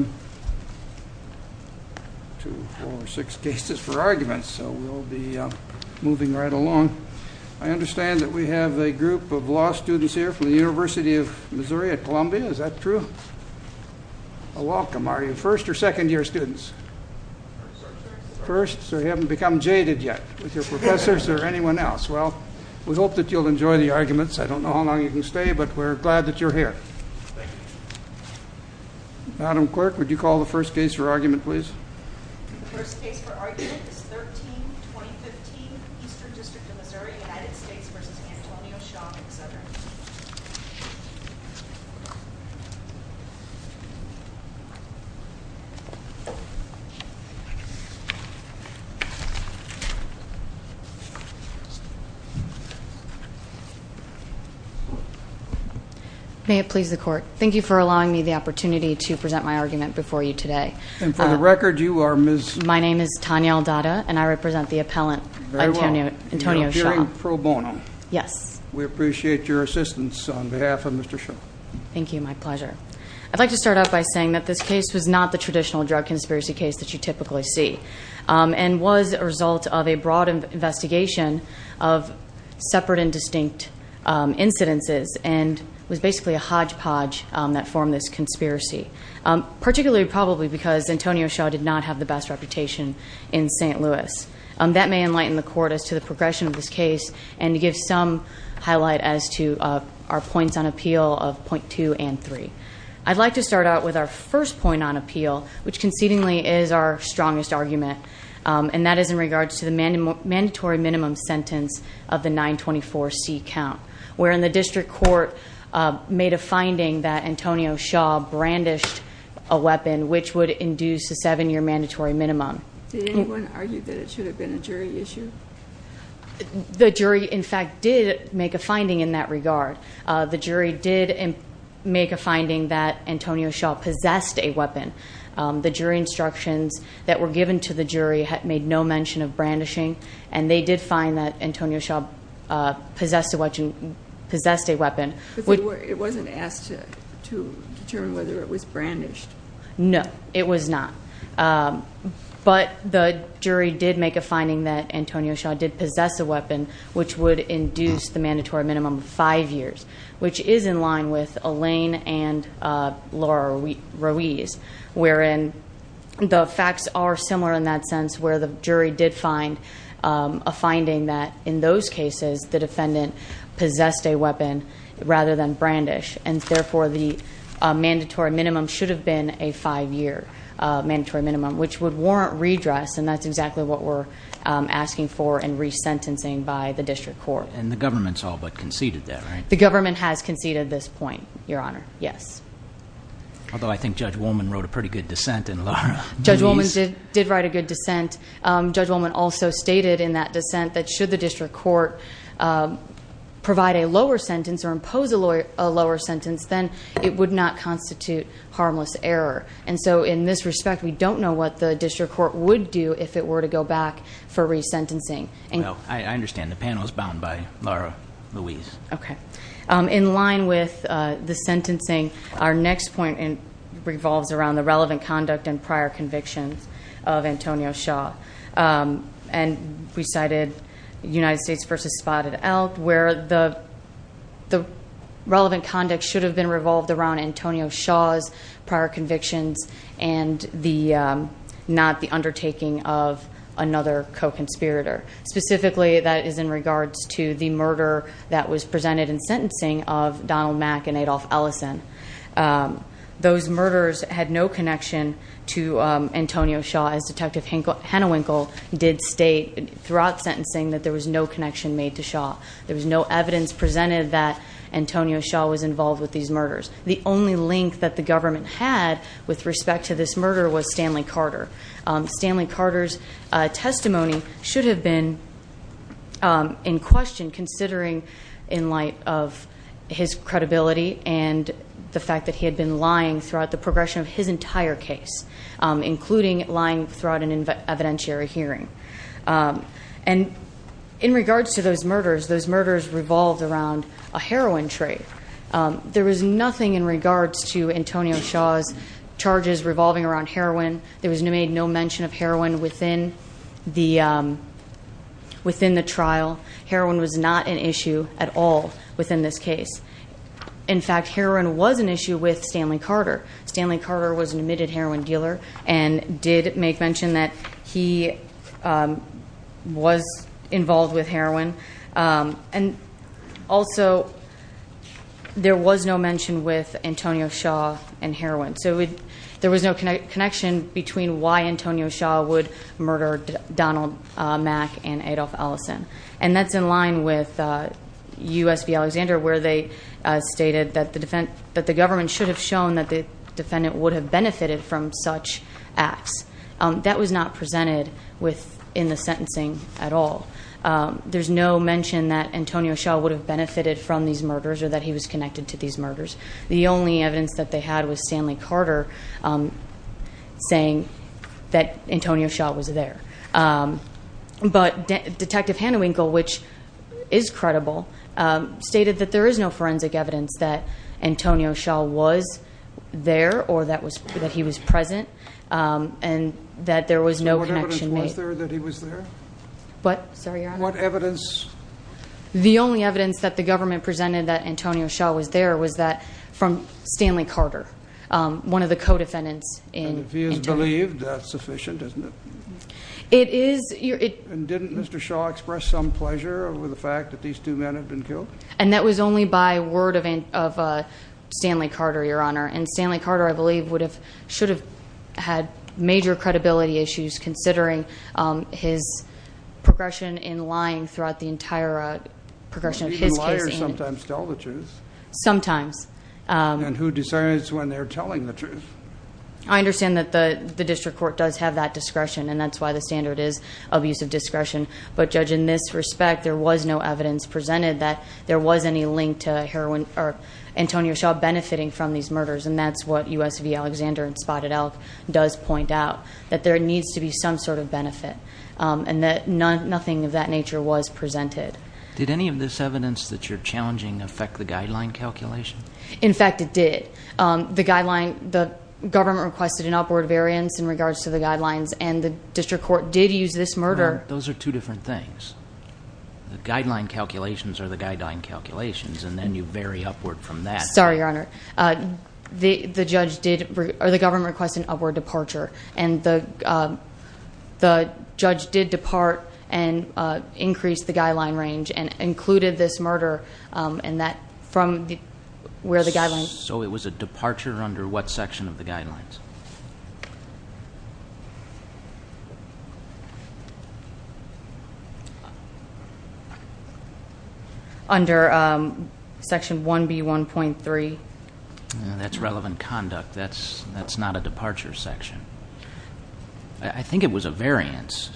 I understand that we have a group of law students here from the University of Missouri at Columbia, is that true? Welcome, are you first or second year students? First, so you haven't become jaded yet with your professors or anyone else. Well, we hope that you'll enjoy the arguments. I don't know how long you can stay, but we're glad that you're here. Madam Clerk, would you call the first case for argument, please? The first case for argument is 13-2015, Eastern District of Missouri, United States v. Antonio Shaw May it please the Court, thank you for allowing me the opportunity to present my argument before you today. And for the record, you are Ms.? My name is Tanya Aldada and I represent the on behalf of Mr. Shaw. Thank you, my pleasure. I'd like to start off by saying that this case was not the traditional drug conspiracy case that you typically see and was a result of a broad investigation of separate and distinct incidences and was basically a hodgepodge that formed this conspiracy. Particularly, probably because Antonio Shaw did not have the best reputation in St. Louis. That may enlighten the Court as to the progression of this case and give some highlight as to our points on appeal of point two and three. I'd like to start out with our first point on appeal, which concedingly is our strongest argument, and that is in regards to the mandatory minimum sentence of the 924C count, wherein the district court made a finding that Antonio Shaw brandished a weapon which would induce a seven-year mandatory minimum. Did anyone argue that it should have been a jury issue? The jury, in fact, did make a finding in that regard. The jury did make a finding that Antonio Shaw possessed a weapon. The jury instructions that were given to the jury had made no mention of brandishing and they did find that Antonio Shaw possessed a weapon. But it wasn't asked to determine whether it was brandished? No, it was not. But the jury did make a finding that Antonio Shaw did possess a weapon which would induce the mandatory minimum of five years, which is in line with Elaine and Laura Ruiz, wherein the facts are similar in that sense where the jury did find a finding that in those cases, the defendant possessed a weapon rather than brandished. And therefore, the mandatory minimum should have been a five-year mandatory minimum, which would warrant redress. And that's exactly what we're asking for and resentencing by the district court. And the government's all but conceded that, right? The government has conceded this point, Your Honor. Yes. Although I think Judge Wollman wrote a pretty good dissent in Laura Ruiz. Judge Wollman did write a good dissent. Judge Wollman also stated in that dissent that should the district court provide a lower sentence or impose a lower sentence, then it would not constitute harmless error. And so in this respect, we don't know what the district court would do if it were to go back for resentencing. Well, I understand. The panel is bound by Laura Ruiz. Okay. In line with the sentencing, our next point revolves around the relevant conduct and prior convictions of Antonio Shaw. And we cited United States v. Spotted Elk, where the relevant conduct should have been revolved around Antonio Shaw's prior convictions and not the undertaking of another co-conspirator. Specifically, that is in regards to the murder that was presented in sentencing of Donald Mack and Adolph Ellison. Those murders had no connection to Antonio Shaw, as Detective Hennewinkle did state throughout sentencing that there was no connection made to these murders. The only link that the government had with respect to this murder was Stanley Carter. Stanley Carter's testimony should have been in question, considering in light of his credibility and the fact that he had been lying throughout the progression of his entire case, including lying throughout an evidentiary hearing. And in regards to those murders, those murders revolved around a heroin trade. There was nothing in regards to Antonio Shaw's charges revolving around heroin. There was made no mention of heroin within the trial. Heroin was not an issue at all within this case. In fact, heroin was an issue with Stanley Carter. Stanley Carter was an was involved with heroin. And also, there was no mention with Antonio Shaw and heroin. So there was no connection between why Antonio Shaw would murder Donald Mack and Adolph Ellison. And that's in line with U.S. v. Alexander, where they stated that the government should have shown that the in the sentencing at all. There's no mention that Antonio Shaw would have benefited from these murders or that he was connected to these murders. The only evidence that they had was Stanley Carter saying that Antonio Shaw was there. But Detective Hanewinkle, which is credible, stated that there is no forensic evidence that Antonio Shaw was there or that he was present and that there was no connection. So what evidence was there that he was there? What? Sorry, Your Honor. What evidence? The only evidence that the government presented that Antonio Shaw was there was that from Stanley Carter, one of the co-defendants. And if he is believed, that's sufficient, isn't it? It is. And didn't Mr. Shaw express some pleasure over the fact that these two men had been killed? And that was only by word of Stanley Carter, Your Honor. And Stanley Carter, I believe, would have, should have had major credibility issues considering his progression in lying throughout the entire progression of his case. Even liars sometimes tell the truth. Sometimes. And who decides when they're telling the truth? I understand that the district court does have that discretion and that's why the standard is of use of discretion. But Judge, in this respect, there was no evidence presented that there was any link to Antonio Shaw benefiting from these murders. And that's what USV Alexander and Spotted Elk does point out, that there needs to be some sort of benefit and that nothing of that nature was presented. Did any of this evidence that you're challenging affect the guideline calculation? In fact, it did. The guideline, the government requested an upward variance in regards to the guidelines and the district court did use this murder. Those are two different things. The guideline calculations are the judge did, or the government requested an upward departure. And the judge did depart and increase the guideline range and included this murder and that from where the guidelines- So it was a departure under what section of the guidelines? Under section 1B1.3. That's relevant conduct. That's not a departure section. I think it was a variance,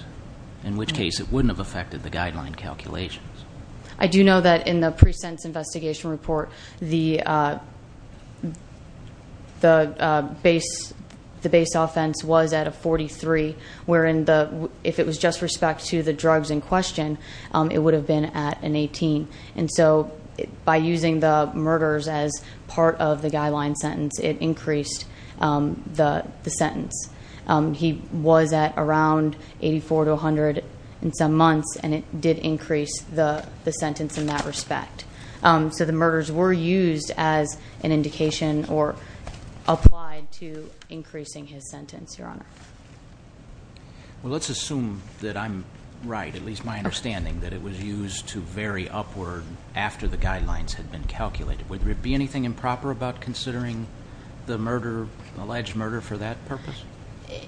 in which case it wouldn't have affected the guideline calculations. I do know that in the pre-sentence investigation report, the base offense was at a 43, wherein if it was just respect to the drugs in question, it would have been at an 18. And so by using the murders as part of the guideline sentence, it increased the sentence. He was at around 84 to 100 in some months, and it did increase the sentence in that respect. So the murders were used as an indication or applied to increasing his sentence, your honor. Well, let's assume that I'm right, at least my understanding, that it was used to vary upward after the guidelines had been calculated. Would there be anything improper about considering the alleged murder for that purpose?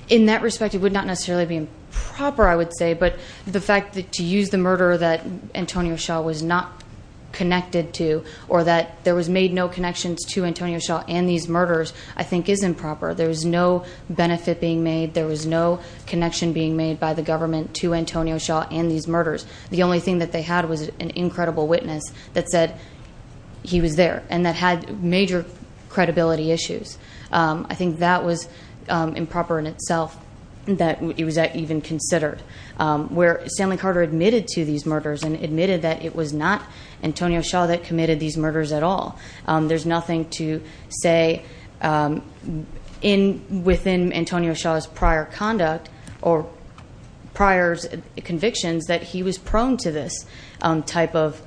In that respect, it would not necessarily be improper, I would say. But the fact that to use the murder that Antonio Shaw was not connected to, or that there was made no connections to Antonio Shaw and these murders, I think is improper. There was no benefit being made. There was no connection being made by the government to Antonio Shaw and these murders. The only thing that they had was an incredible witness that said he was there, and that had major credibility issues. I think that was improper in itself that it was even considered. Stanley Carter admitted to these murders and admitted that it was not Antonio Shaw that committed these murders at all. There's nothing to say within Antonio Shaw's prior conduct or prior convictions that he was prone to this type of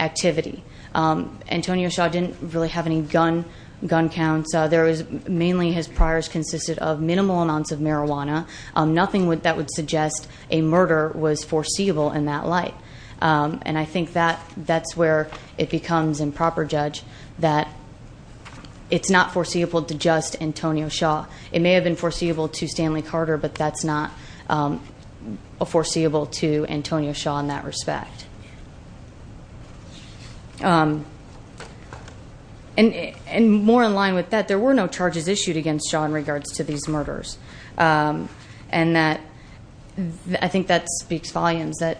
activity. Antonio Shaw didn't really have any gun counts. Mainly his priors consisted of minimal amounts of marijuana, nothing that would suggest a murder was foreseeable in that light. And I think that's where it becomes improper judge that it's not foreseeable to just Antonio Shaw. It may have been foreseeable to Stanley Carter, but it's not foreseeable to Antonio Shaw in that respect. And more in line with that, there were no charges issued against Shaw in regards to these murders. And I think that speaks volumes that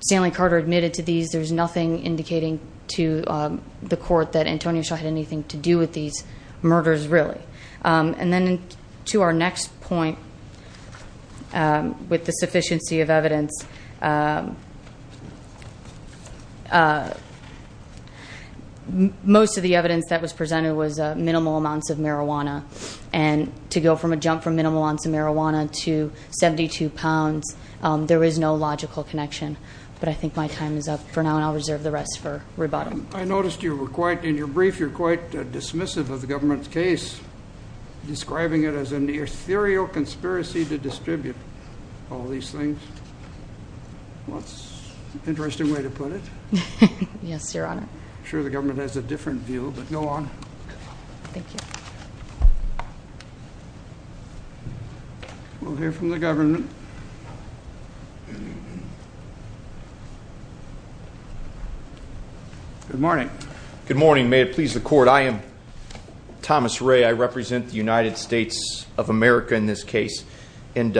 Stanley Carter admitted to these. There's nothing indicating to the court that Antonio Shaw had anything to do with these murders really. And to our next point, with the sufficiency of evidence, most of the evidence that was presented was minimal amounts of marijuana. And to go from a jump from minimal amounts of marijuana to 72 pounds, there is no logical connection. But I think my time is up for now, and I'll reserve the rest for rebuttal. I noticed you were quite, in your brief, you're quite dismissive of the government's case, describing it as an ethereal conspiracy to distribute all these things. Well, that's an interesting way to put it. Yes, Your Honor. I'm sure the government has a different view, but go on. Thank you. We'll hear from the government. Good morning. Good morning. May it please the court, I am Thomas Ray. I represent the United States of America in this case. And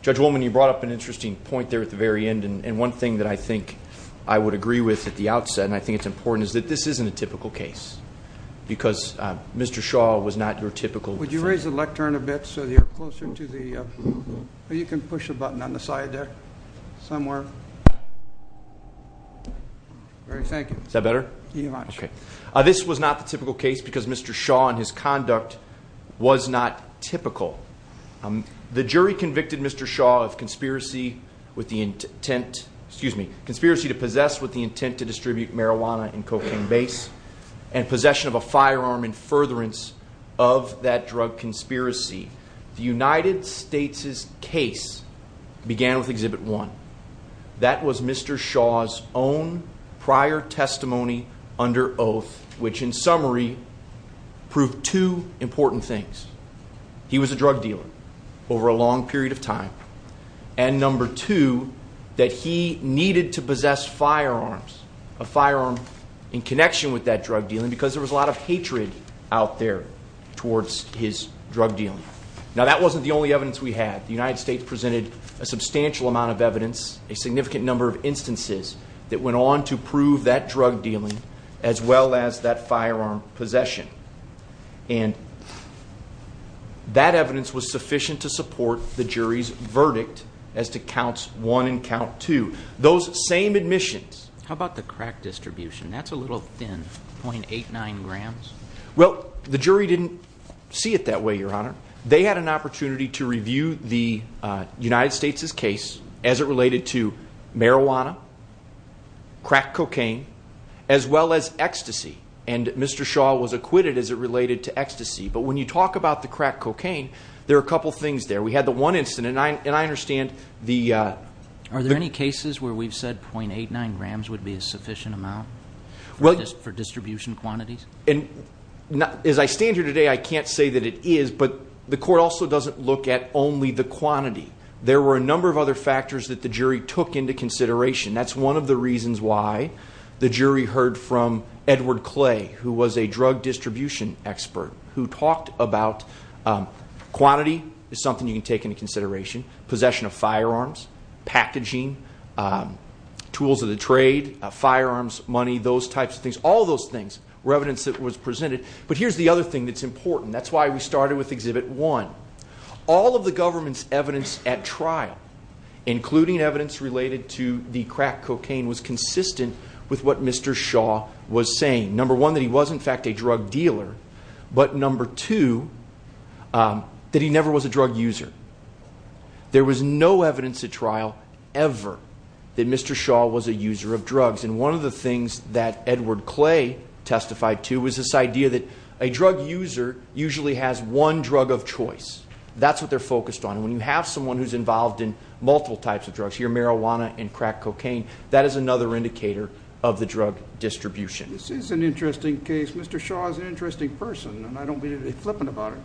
Judge Woolman, you brought up an interesting point there at the very end. And one thing that I think I would agree with at the outset, and I think it's important, is that this isn't a typical case. Because Mr. Shaw was not your typical- Could you raise the lectern a bit so that you're closer to the- You can push a button on the side there, somewhere. All right, thank you. Is that better? Yes, Your Honor. Okay. This was not the typical case because Mr. Shaw and his conduct was not typical. The jury convicted Mr. Shaw of conspiracy with the intent, excuse me, conspiracy to possess with the intent to distribute marijuana and cocaine base, and possession of a firearm in furtherance of that drug conspiracy. The United States' case began with Exhibit 1. That was Mr. Shaw's own prior testimony under oath, which in summary, proved two important things. He was a drug dealer over a long period of time. And number two, that he needed to possess firearms, a firearm in connection with that drug dealing, because there was a lot of hatred out there towards his drug dealing. Now, that wasn't the only evidence we had. The United States presented a substantial amount of evidence, a significant number of instances that went on to prove that drug dealing as well as that firearm possession. And that evidence was sufficient to support the jury's verdict as to Counts 1 and Count 2. Those same admissions- How about the crack distribution? That's a little thin, 0.89 grams. Well, the jury didn't see it that way, Your Honor. They had an opportunity to review the United States' case as it related to marijuana, crack cocaine, as well as ecstasy. And Mr. Shaw was acquitted as it related to ecstasy. But when you talk about the crack cocaine, there are a couple of things there. We had the one incident, and I understand the- Are there any cases where we've said 0.89 grams would be a sufficient amount for distribution quantities? As I stand here today, I can't say that it is. But the court also doesn't look at only the quantity. There were a number of other factors that the jury took into consideration. That's one of the reasons why the jury heard from Edward Clay, who was a drug distribution expert, who talked about quantity is something you can take into consideration. Possession of firearms, packaging, tools of the trade, firearms, money, those types of things. All those things were evidence that was presented. But here's the other thing that's important. That's why we started with Exhibit 1. All of the government's evidence at trial, including evidence related to the crack cocaine, was consistent with what Mr. Shaw was saying. Number one, that he was, in fact, a drug dealer. But number two, that he never was a drug user. There was no evidence at trial ever that Mr. Shaw was a user of drugs. And one of the things that Edward Clay testified to was this idea that a drug user usually has one drug of choice. That's what they're focused on. When you have someone who's involved in multiple types of drugs, your marijuana and crack cocaine, that is another indicator of the drug distribution. This is an interesting case. Mr. Shaw is an interesting person, and I don't mean to be flippant about it.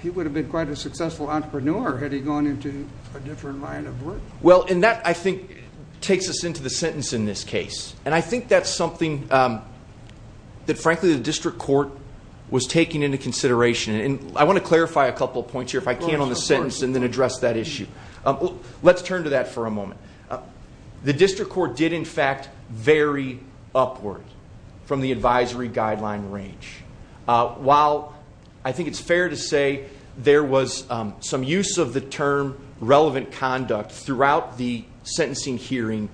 He would have been quite a successful entrepreneur had he gone into a different line of work. Well, and that, I think, takes us into the sentence in this case. And I think that's something that, frankly, the district court was taking into consideration. And I want to clarify a couple of points here, if I can, on the sentence and then address that issue. Let's turn to that for a moment. The district court did, in fact, vary upward from the advisory guideline range. While I think it's fair to say there was some use of the term relevant conduct throughout the sentencing hearing,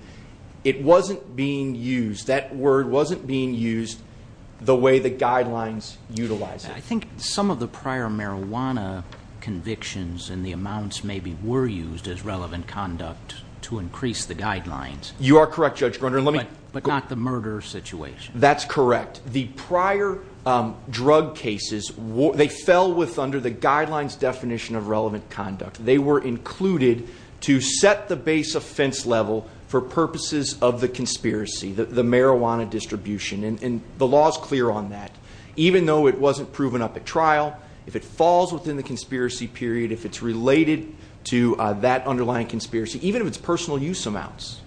it wasn't being used, that word wasn't being used the way the guidelines utilize it. I think some of the prior marijuana convictions and the amounts maybe were used as to increase the guidelines. You are correct, Judge Grunder. But not the murder situation. That's correct. The prior drug cases, they fell under the guidelines definition of relevant conduct. They were included to set the base offense level for purposes of the conspiracy, the marijuana distribution. And the law is clear on that. Even though it wasn't proven up at trial, if it falls within the conspiracy period, if it's related to that underlying conspiracy, even if it's personal use amounts,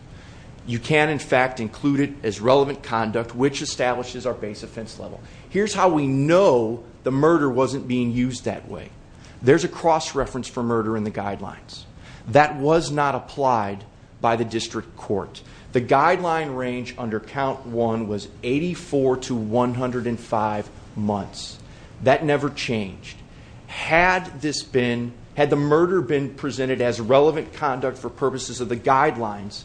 you can, in fact, include it as relevant conduct, which establishes our base offense level. Here's how we know the murder wasn't being used that way. There's a cross-reference for murder in the guidelines. That was not applied by the district court. The guideline range under count one was 84 to 105 months. That never changed. Had this been, had the murder been presented as relevant conduct for purposes of the guidelines,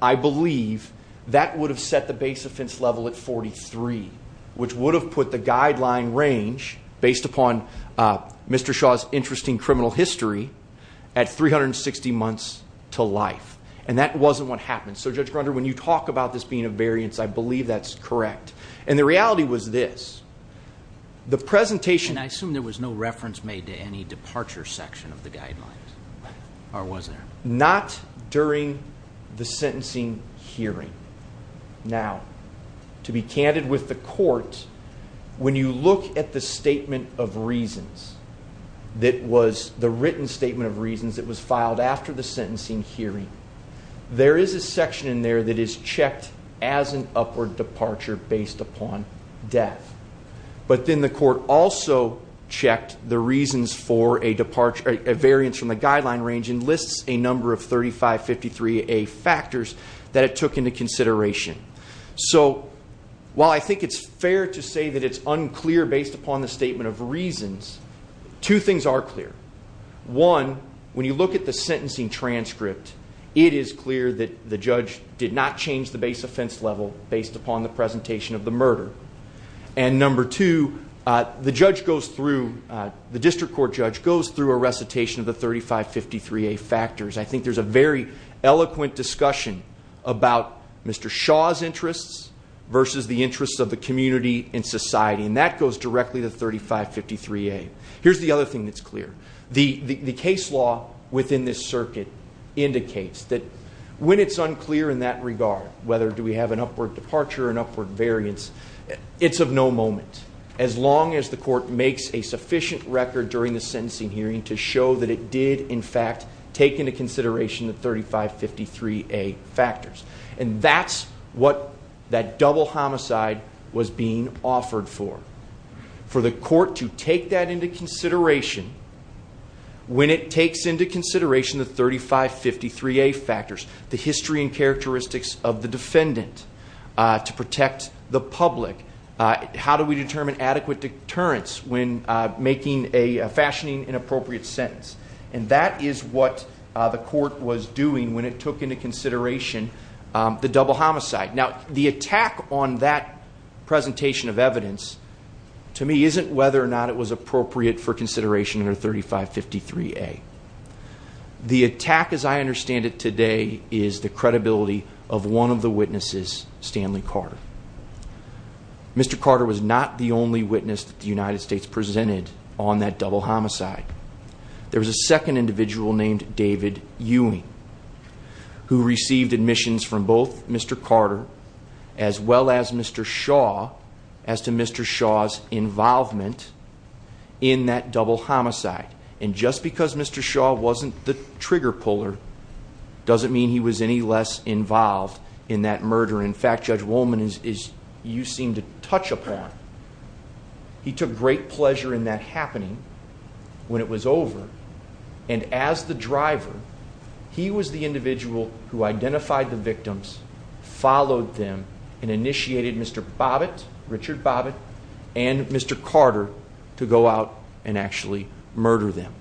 I believe that would have set the base offense level at 43, which would have put the guideline range based upon Mr. Shaw's interesting criminal history at 360 months to life. And that wasn't what happened. So Judge Grunder, when you talk about this being a variance, I believe that's correct. And the reality was this, the presentation- And I assume there was no reference made to any departure section of the guidelines, or was there? Not during the sentencing hearing. Now, to be candid with the court, when you look at the statement of reasons that was, the written statement of reasons that was filed after the sentencing hearing, there is a section in there that is checked as an upward departure based upon death. But then the court also checked the reasons for a variance from the guideline range and lists a number of 3553A factors that it took into consideration. So while I think it's fair to say that it's unclear based upon the statement of reasons, two things are clear. One, when you look at the sentencing transcript, it is clear that the judge did not change the base offense level based upon the presentation of the murder. And number two, the judge goes through, the district court judge goes through a recitation of the 3553A factors. I think there's a very eloquent discussion about Mr. Shaw's interests versus the interests of the community and society. And that goes directly to 3553A. Here's the other that's clear. The case law within this circuit indicates that when it's unclear in that regard, whether do we have an upward departure or an upward variance, it's of no moment, as long as the court makes a sufficient record during the sentencing hearing to show that it did in fact take into consideration the 3553A factors. And that's what that double homicide was being offered for, for the court to take that into consideration when it takes into consideration the 3553A factors, the history and characteristics of the defendant to protect the public. How do we determine adequate deterrence when making a fashioning inappropriate sentence? And that is what the court was doing when it took into consideration the double homicide. Now, the attack on that presentation of evidence to me isn't whether or not it was appropriate for consideration under 3553A. The attack as I understand it today is the credibility of one of the witnesses, Stanley Carter. Mr. Carter was not the only witness that the United States presented on that double homicide. It was Mr. William Ewing who received admissions from both Mr. Carter as well as Mr. Shaw as to Mr. Shaw's involvement in that double homicide. And just because Mr. Shaw wasn't the trigger puller doesn't mean he was any less involved in that murder. In fact, Judge Wollman, as you seem to touch upon, he took great pleasure in that happening when it was over. And as the driver, he was the individual who identified the victims, followed them, and initiated Mr. Bobbitt, Richard Bobbitt, and Mr. Carter to go out and actually murder them.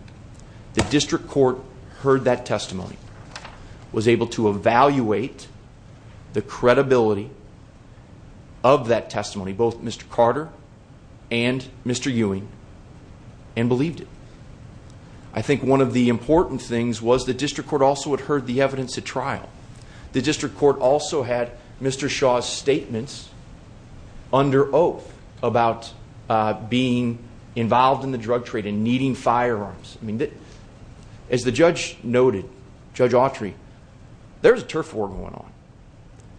The district court heard that testimony, was able to evaluate the credibility of that testimony, both Mr. Carter and Mr. Ewing, and believed it. I think one of the important things was the district court also had heard the evidence at trial. The district court also had Mr. Shaw's statements under oath about being involved in the drug trade and needing firearms. I mean, as the judge noted, Judge Autry, there was a turf war going on.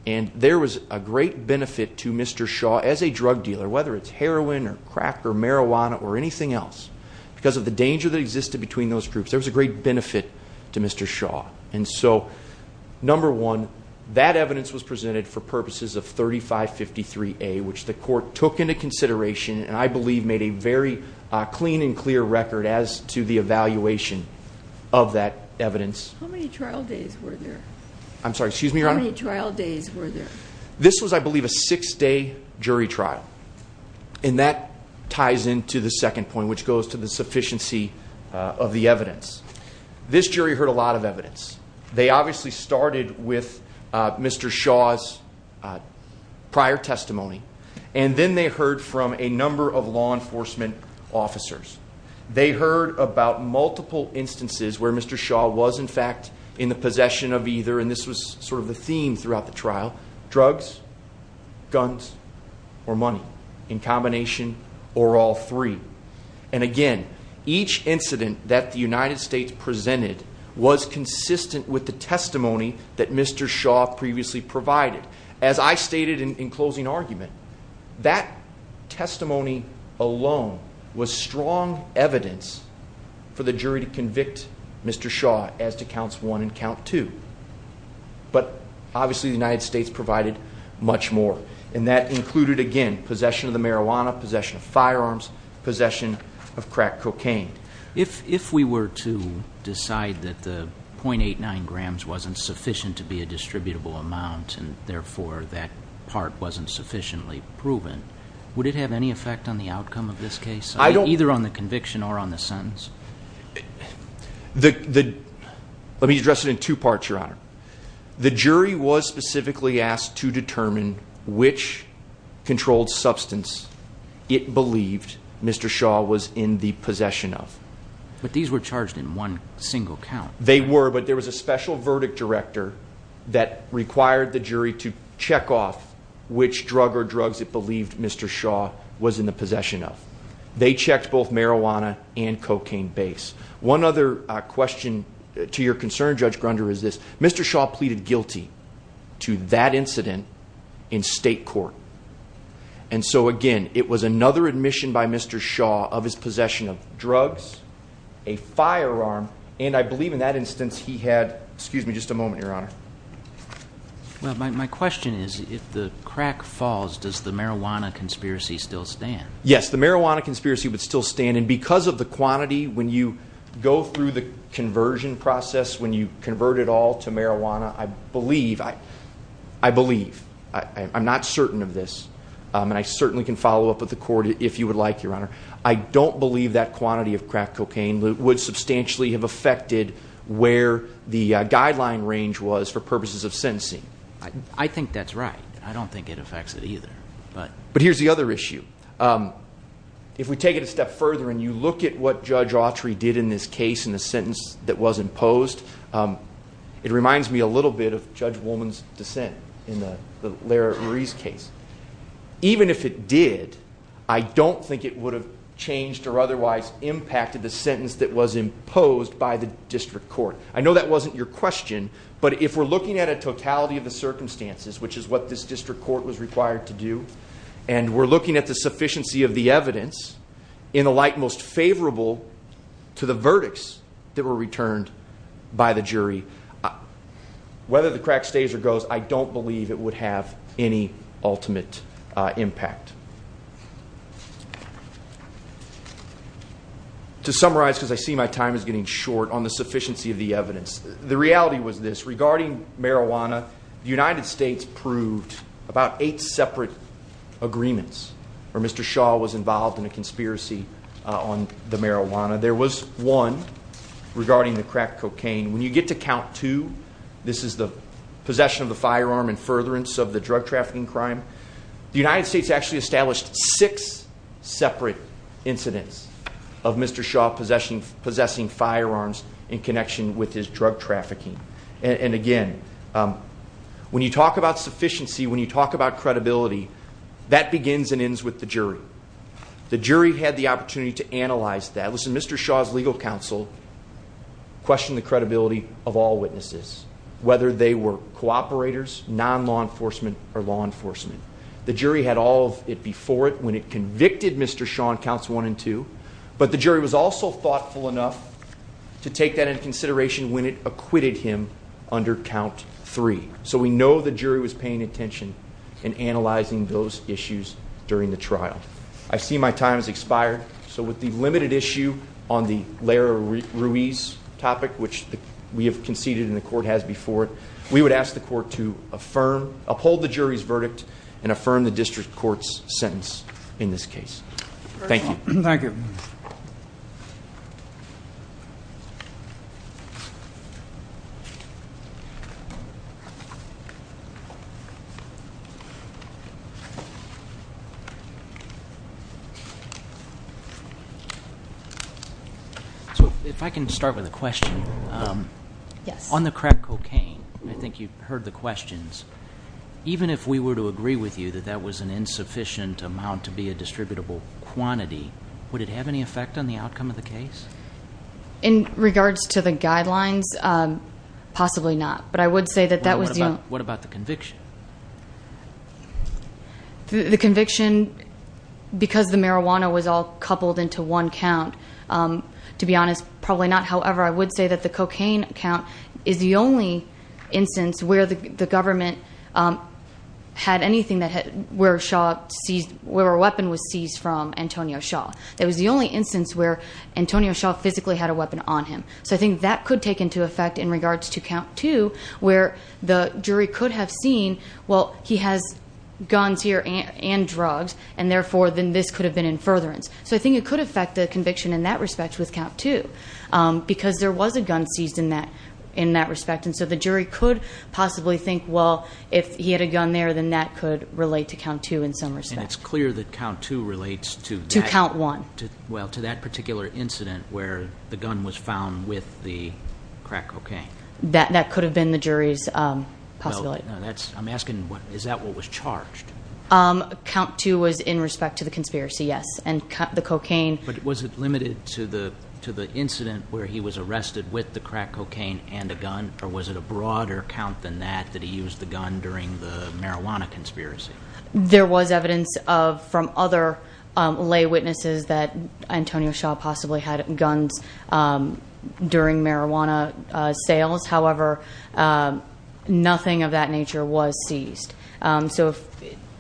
And there was a great benefit to Mr. Shaw as a drug dealer, whether it's heroin or crack or marijuana or anything else, because of the danger that existed between those groups, there was a great benefit to Mr. Shaw. And so, number one, that evidence was presented for purposes of 3553A, which the evaluation of that evidence. How many trial days were there? I'm sorry, excuse me. How many trial days were there? This was, I believe, a six-day jury trial. And that ties into the second point, which goes to the sufficiency of the evidence. This jury heard a lot of evidence. They obviously started with Mr. Shaw's prior testimony. And then they heard from a number of enforcement officers. They heard about multiple instances where Mr. Shaw was, in fact, in the possession of either, and this was sort of the theme throughout the trial, drugs, guns, or money in combination, or all three. And again, each incident that the United States presented was consistent with the testimony that Mr. Shaw previously provided. As I stated in closing argument, that testimony alone was strong evidence for the jury to convict Mr. Shaw as to counts one and count two. But obviously, the United States provided much more. And that included, again, possession of the marijuana, possession of firearms, possession of crack cocaine. If we were to decide that the 0.89 grams wasn't sufficient to be a distributable amount, and proven, would it have any effect on the outcome of this case, either on the conviction or on the sentence? Let me address it in two parts, Your Honor. The jury was specifically asked to determine which controlled substance it believed Mr. Shaw was in the possession of. But these were charged in one single count. They were, but there was a special verdict director that required the jury to check off which drug or drugs it believed Mr. Shaw was in the possession of. They checked both marijuana and cocaine base. One other question to your concern, Judge Grunder, is this. Mr. Shaw pleaded guilty to that incident in state court. And so, again, it was another admission by Mr. Shaw of his possession of drugs, a firearm, and I believe in that instance he had, excuse me, Your Honor. Well, my question is, if the crack falls, does the marijuana conspiracy still stand? Yes, the marijuana conspiracy would still stand. And because of the quantity, when you go through the conversion process, when you convert it all to marijuana, I believe, I believe, I'm not certain of this, and I certainly can follow up with the court if you would like, Your Honor. I don't believe that quantity of crack cocaine would substantially have affected where the guideline range was for purposes of sentencing. I think that's right. I don't think it affects it either, but. But here's the other issue. If we take it a step further and you look at what Judge Autry did in this case in the sentence that was imposed, it reminds me a little bit of Judge Woolman's dissent in the Lara Marie's case. Even if it did, I don't think it would have changed or otherwise impacted the sentence that was imposed by the district court. I know that wasn't your question, but if we're looking at a totality of the circumstances, which is what this district court was required to do, and we're looking at the sufficiency of the evidence in the light most favorable to the verdicts that were returned by the jury, whether the crack stays or goes, I don't believe it would have any ultimate impact. To summarize, because I see my time is getting short on the sufficiency of the evidence, the reality was this. Regarding marijuana, the United States proved about eight separate agreements where Mr. Shaw was involved in a conspiracy on the marijuana. There was one regarding the crack cocaine. When you get to count two, this is the possession of the firearm and furtherance of the drug trafficking crime. The United States actually established six separate incidents of Mr. Shaw possessing firearms in connection with his drug trafficking. Again, when you talk about sufficiency, when you talk about credibility, that begins and ends with the jury. The jury had the opportunity to analyze that. Listen, Mr. Shaw's legal counsel questioned the credibility of all witnesses, whether they were cooperators, non-law enforcement, or law enforcement. The jury had all of it before it when it convicted Mr. Shaw on counts one and two, but the jury was also thoughtful enough to take that into consideration when it acquitted him under count three. We know the jury was paying attention in analyzing those issues during the trial. I see my time has expired, so with the limited issue on the Leroy Ruiz topic, which we have conceded and the court has before it, would ask the court to uphold the jury's verdict and affirm the district court's sentence in this case. Thank you. Thank you. So if I can start with a question. Yes. On the crack cocaine, I think you've heard the questions. Even if we were to agree with you that that was an insufficient amount to be a distributable quantity, would it have any effect on the outcome of the case? In regards to the guidelines, possibly not, but I would say that that was... What about the conviction? The conviction, because the marijuana was all coupled into one count, to be honest, probably not. However, I would say that the cocaine count is the only instance where the government had anything where a weapon was seized from Antonio Shaw. That was the only instance where Antonio Shaw physically had a weapon on him. So I think that could take into effect in regards to count two, where the jury could have seen, well, he has guns here and drugs, and therefore, then this could have been in furtherance. So I think it could affect the conviction in that respect with count two, because there was a gun seized in that respect. And so the jury could possibly think, well, if he had a gun there, then that could relate to count two in some respect. And it's clear that count two relates to... To count one. Well, to that particular incident where the gun was found with the crack cocaine. That could have been the jury's possibility. I'm asking, is that what was charged? Count two was in respect to the conspiracy, yes. And the cocaine... But was it limited to the incident where he was arrested with the crack cocaine and a gun, or was it a broader count than that, that he used the gun during the marijuana conspiracy? There was evidence from other lay witnesses that Antonio Shaw possibly had guns during marijuana sales. However, nothing of that nature was seized. So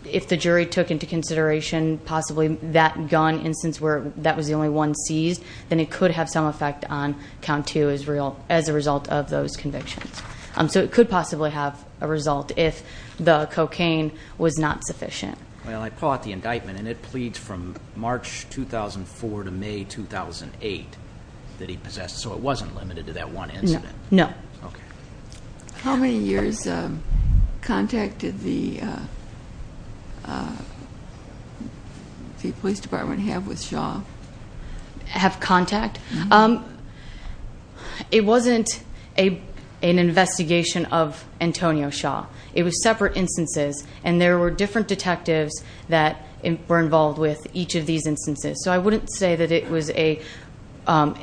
if the jury took into consideration possibly that gun instance where that was the only one seized, then it could have some effect on count two as a result of those convictions. So it could possibly have a result if the cocaine was not sufficient. Well, I pull out the indictment, and it pleads from March 2004 to May 2008 that he possessed. So it wasn't limited to that one incident? No. Have contact? It wasn't an investigation of Antonio Shaw. It was separate instances, and there were different detectives that were involved with each of these instances. So I wouldn't say that it was an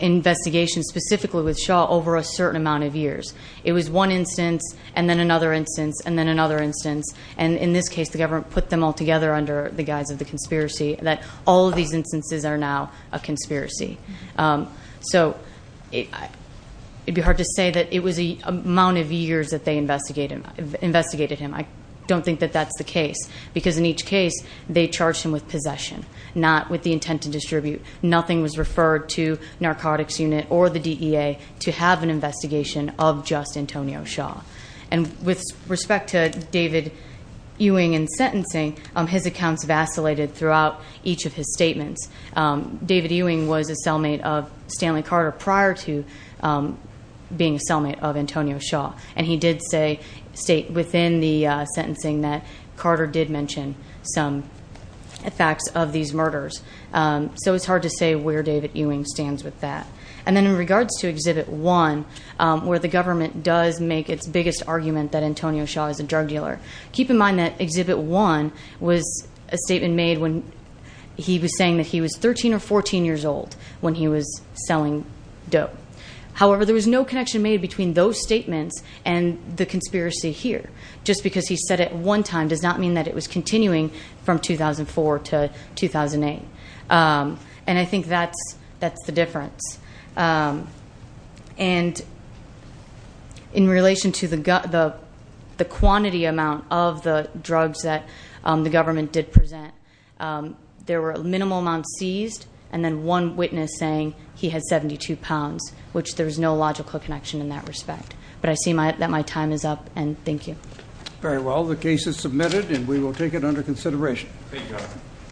investigation specifically with Shaw over a certain amount of years. It was one instance, and then another instance, and then another instance. And in this case, the government put them all together under the guise of the conspiracy that all of these were now a conspiracy. So it'd be hard to say that it was the amount of years that they investigated him. I don't think that that's the case, because in each case, they charged him with possession, not with the intent to distribute. Nothing was referred to Narcotics Unit or the DEA to have an investigation of just Antonio Shaw. And with respect to David Ewing and sentencing, his accounts vacillated throughout each of his statements. David Ewing was a cellmate of Stanley Carter prior to being a cellmate of Antonio Shaw, and he did state within the sentencing that Carter did mention some facts of these murders. So it's hard to say where David Ewing stands with that. And then in regards to Exhibit 1, where the government does make its biggest argument that was a statement made when he was saying that he was 13 or 14 years old when he was selling dope. However, there was no connection made between those statements and the conspiracy here. Just because he said it one time does not mean that it was continuing from 2004 to 2008. And I think that's the difference. And in relation to the quantity amount of the drugs that the government did present, there were a minimal amount seized and then one witness saying he had 72 pounds, which there's no logical connection in that respect. But I see that my time is up, and thank you. Very well. The case is submitted, and we will take it under consideration.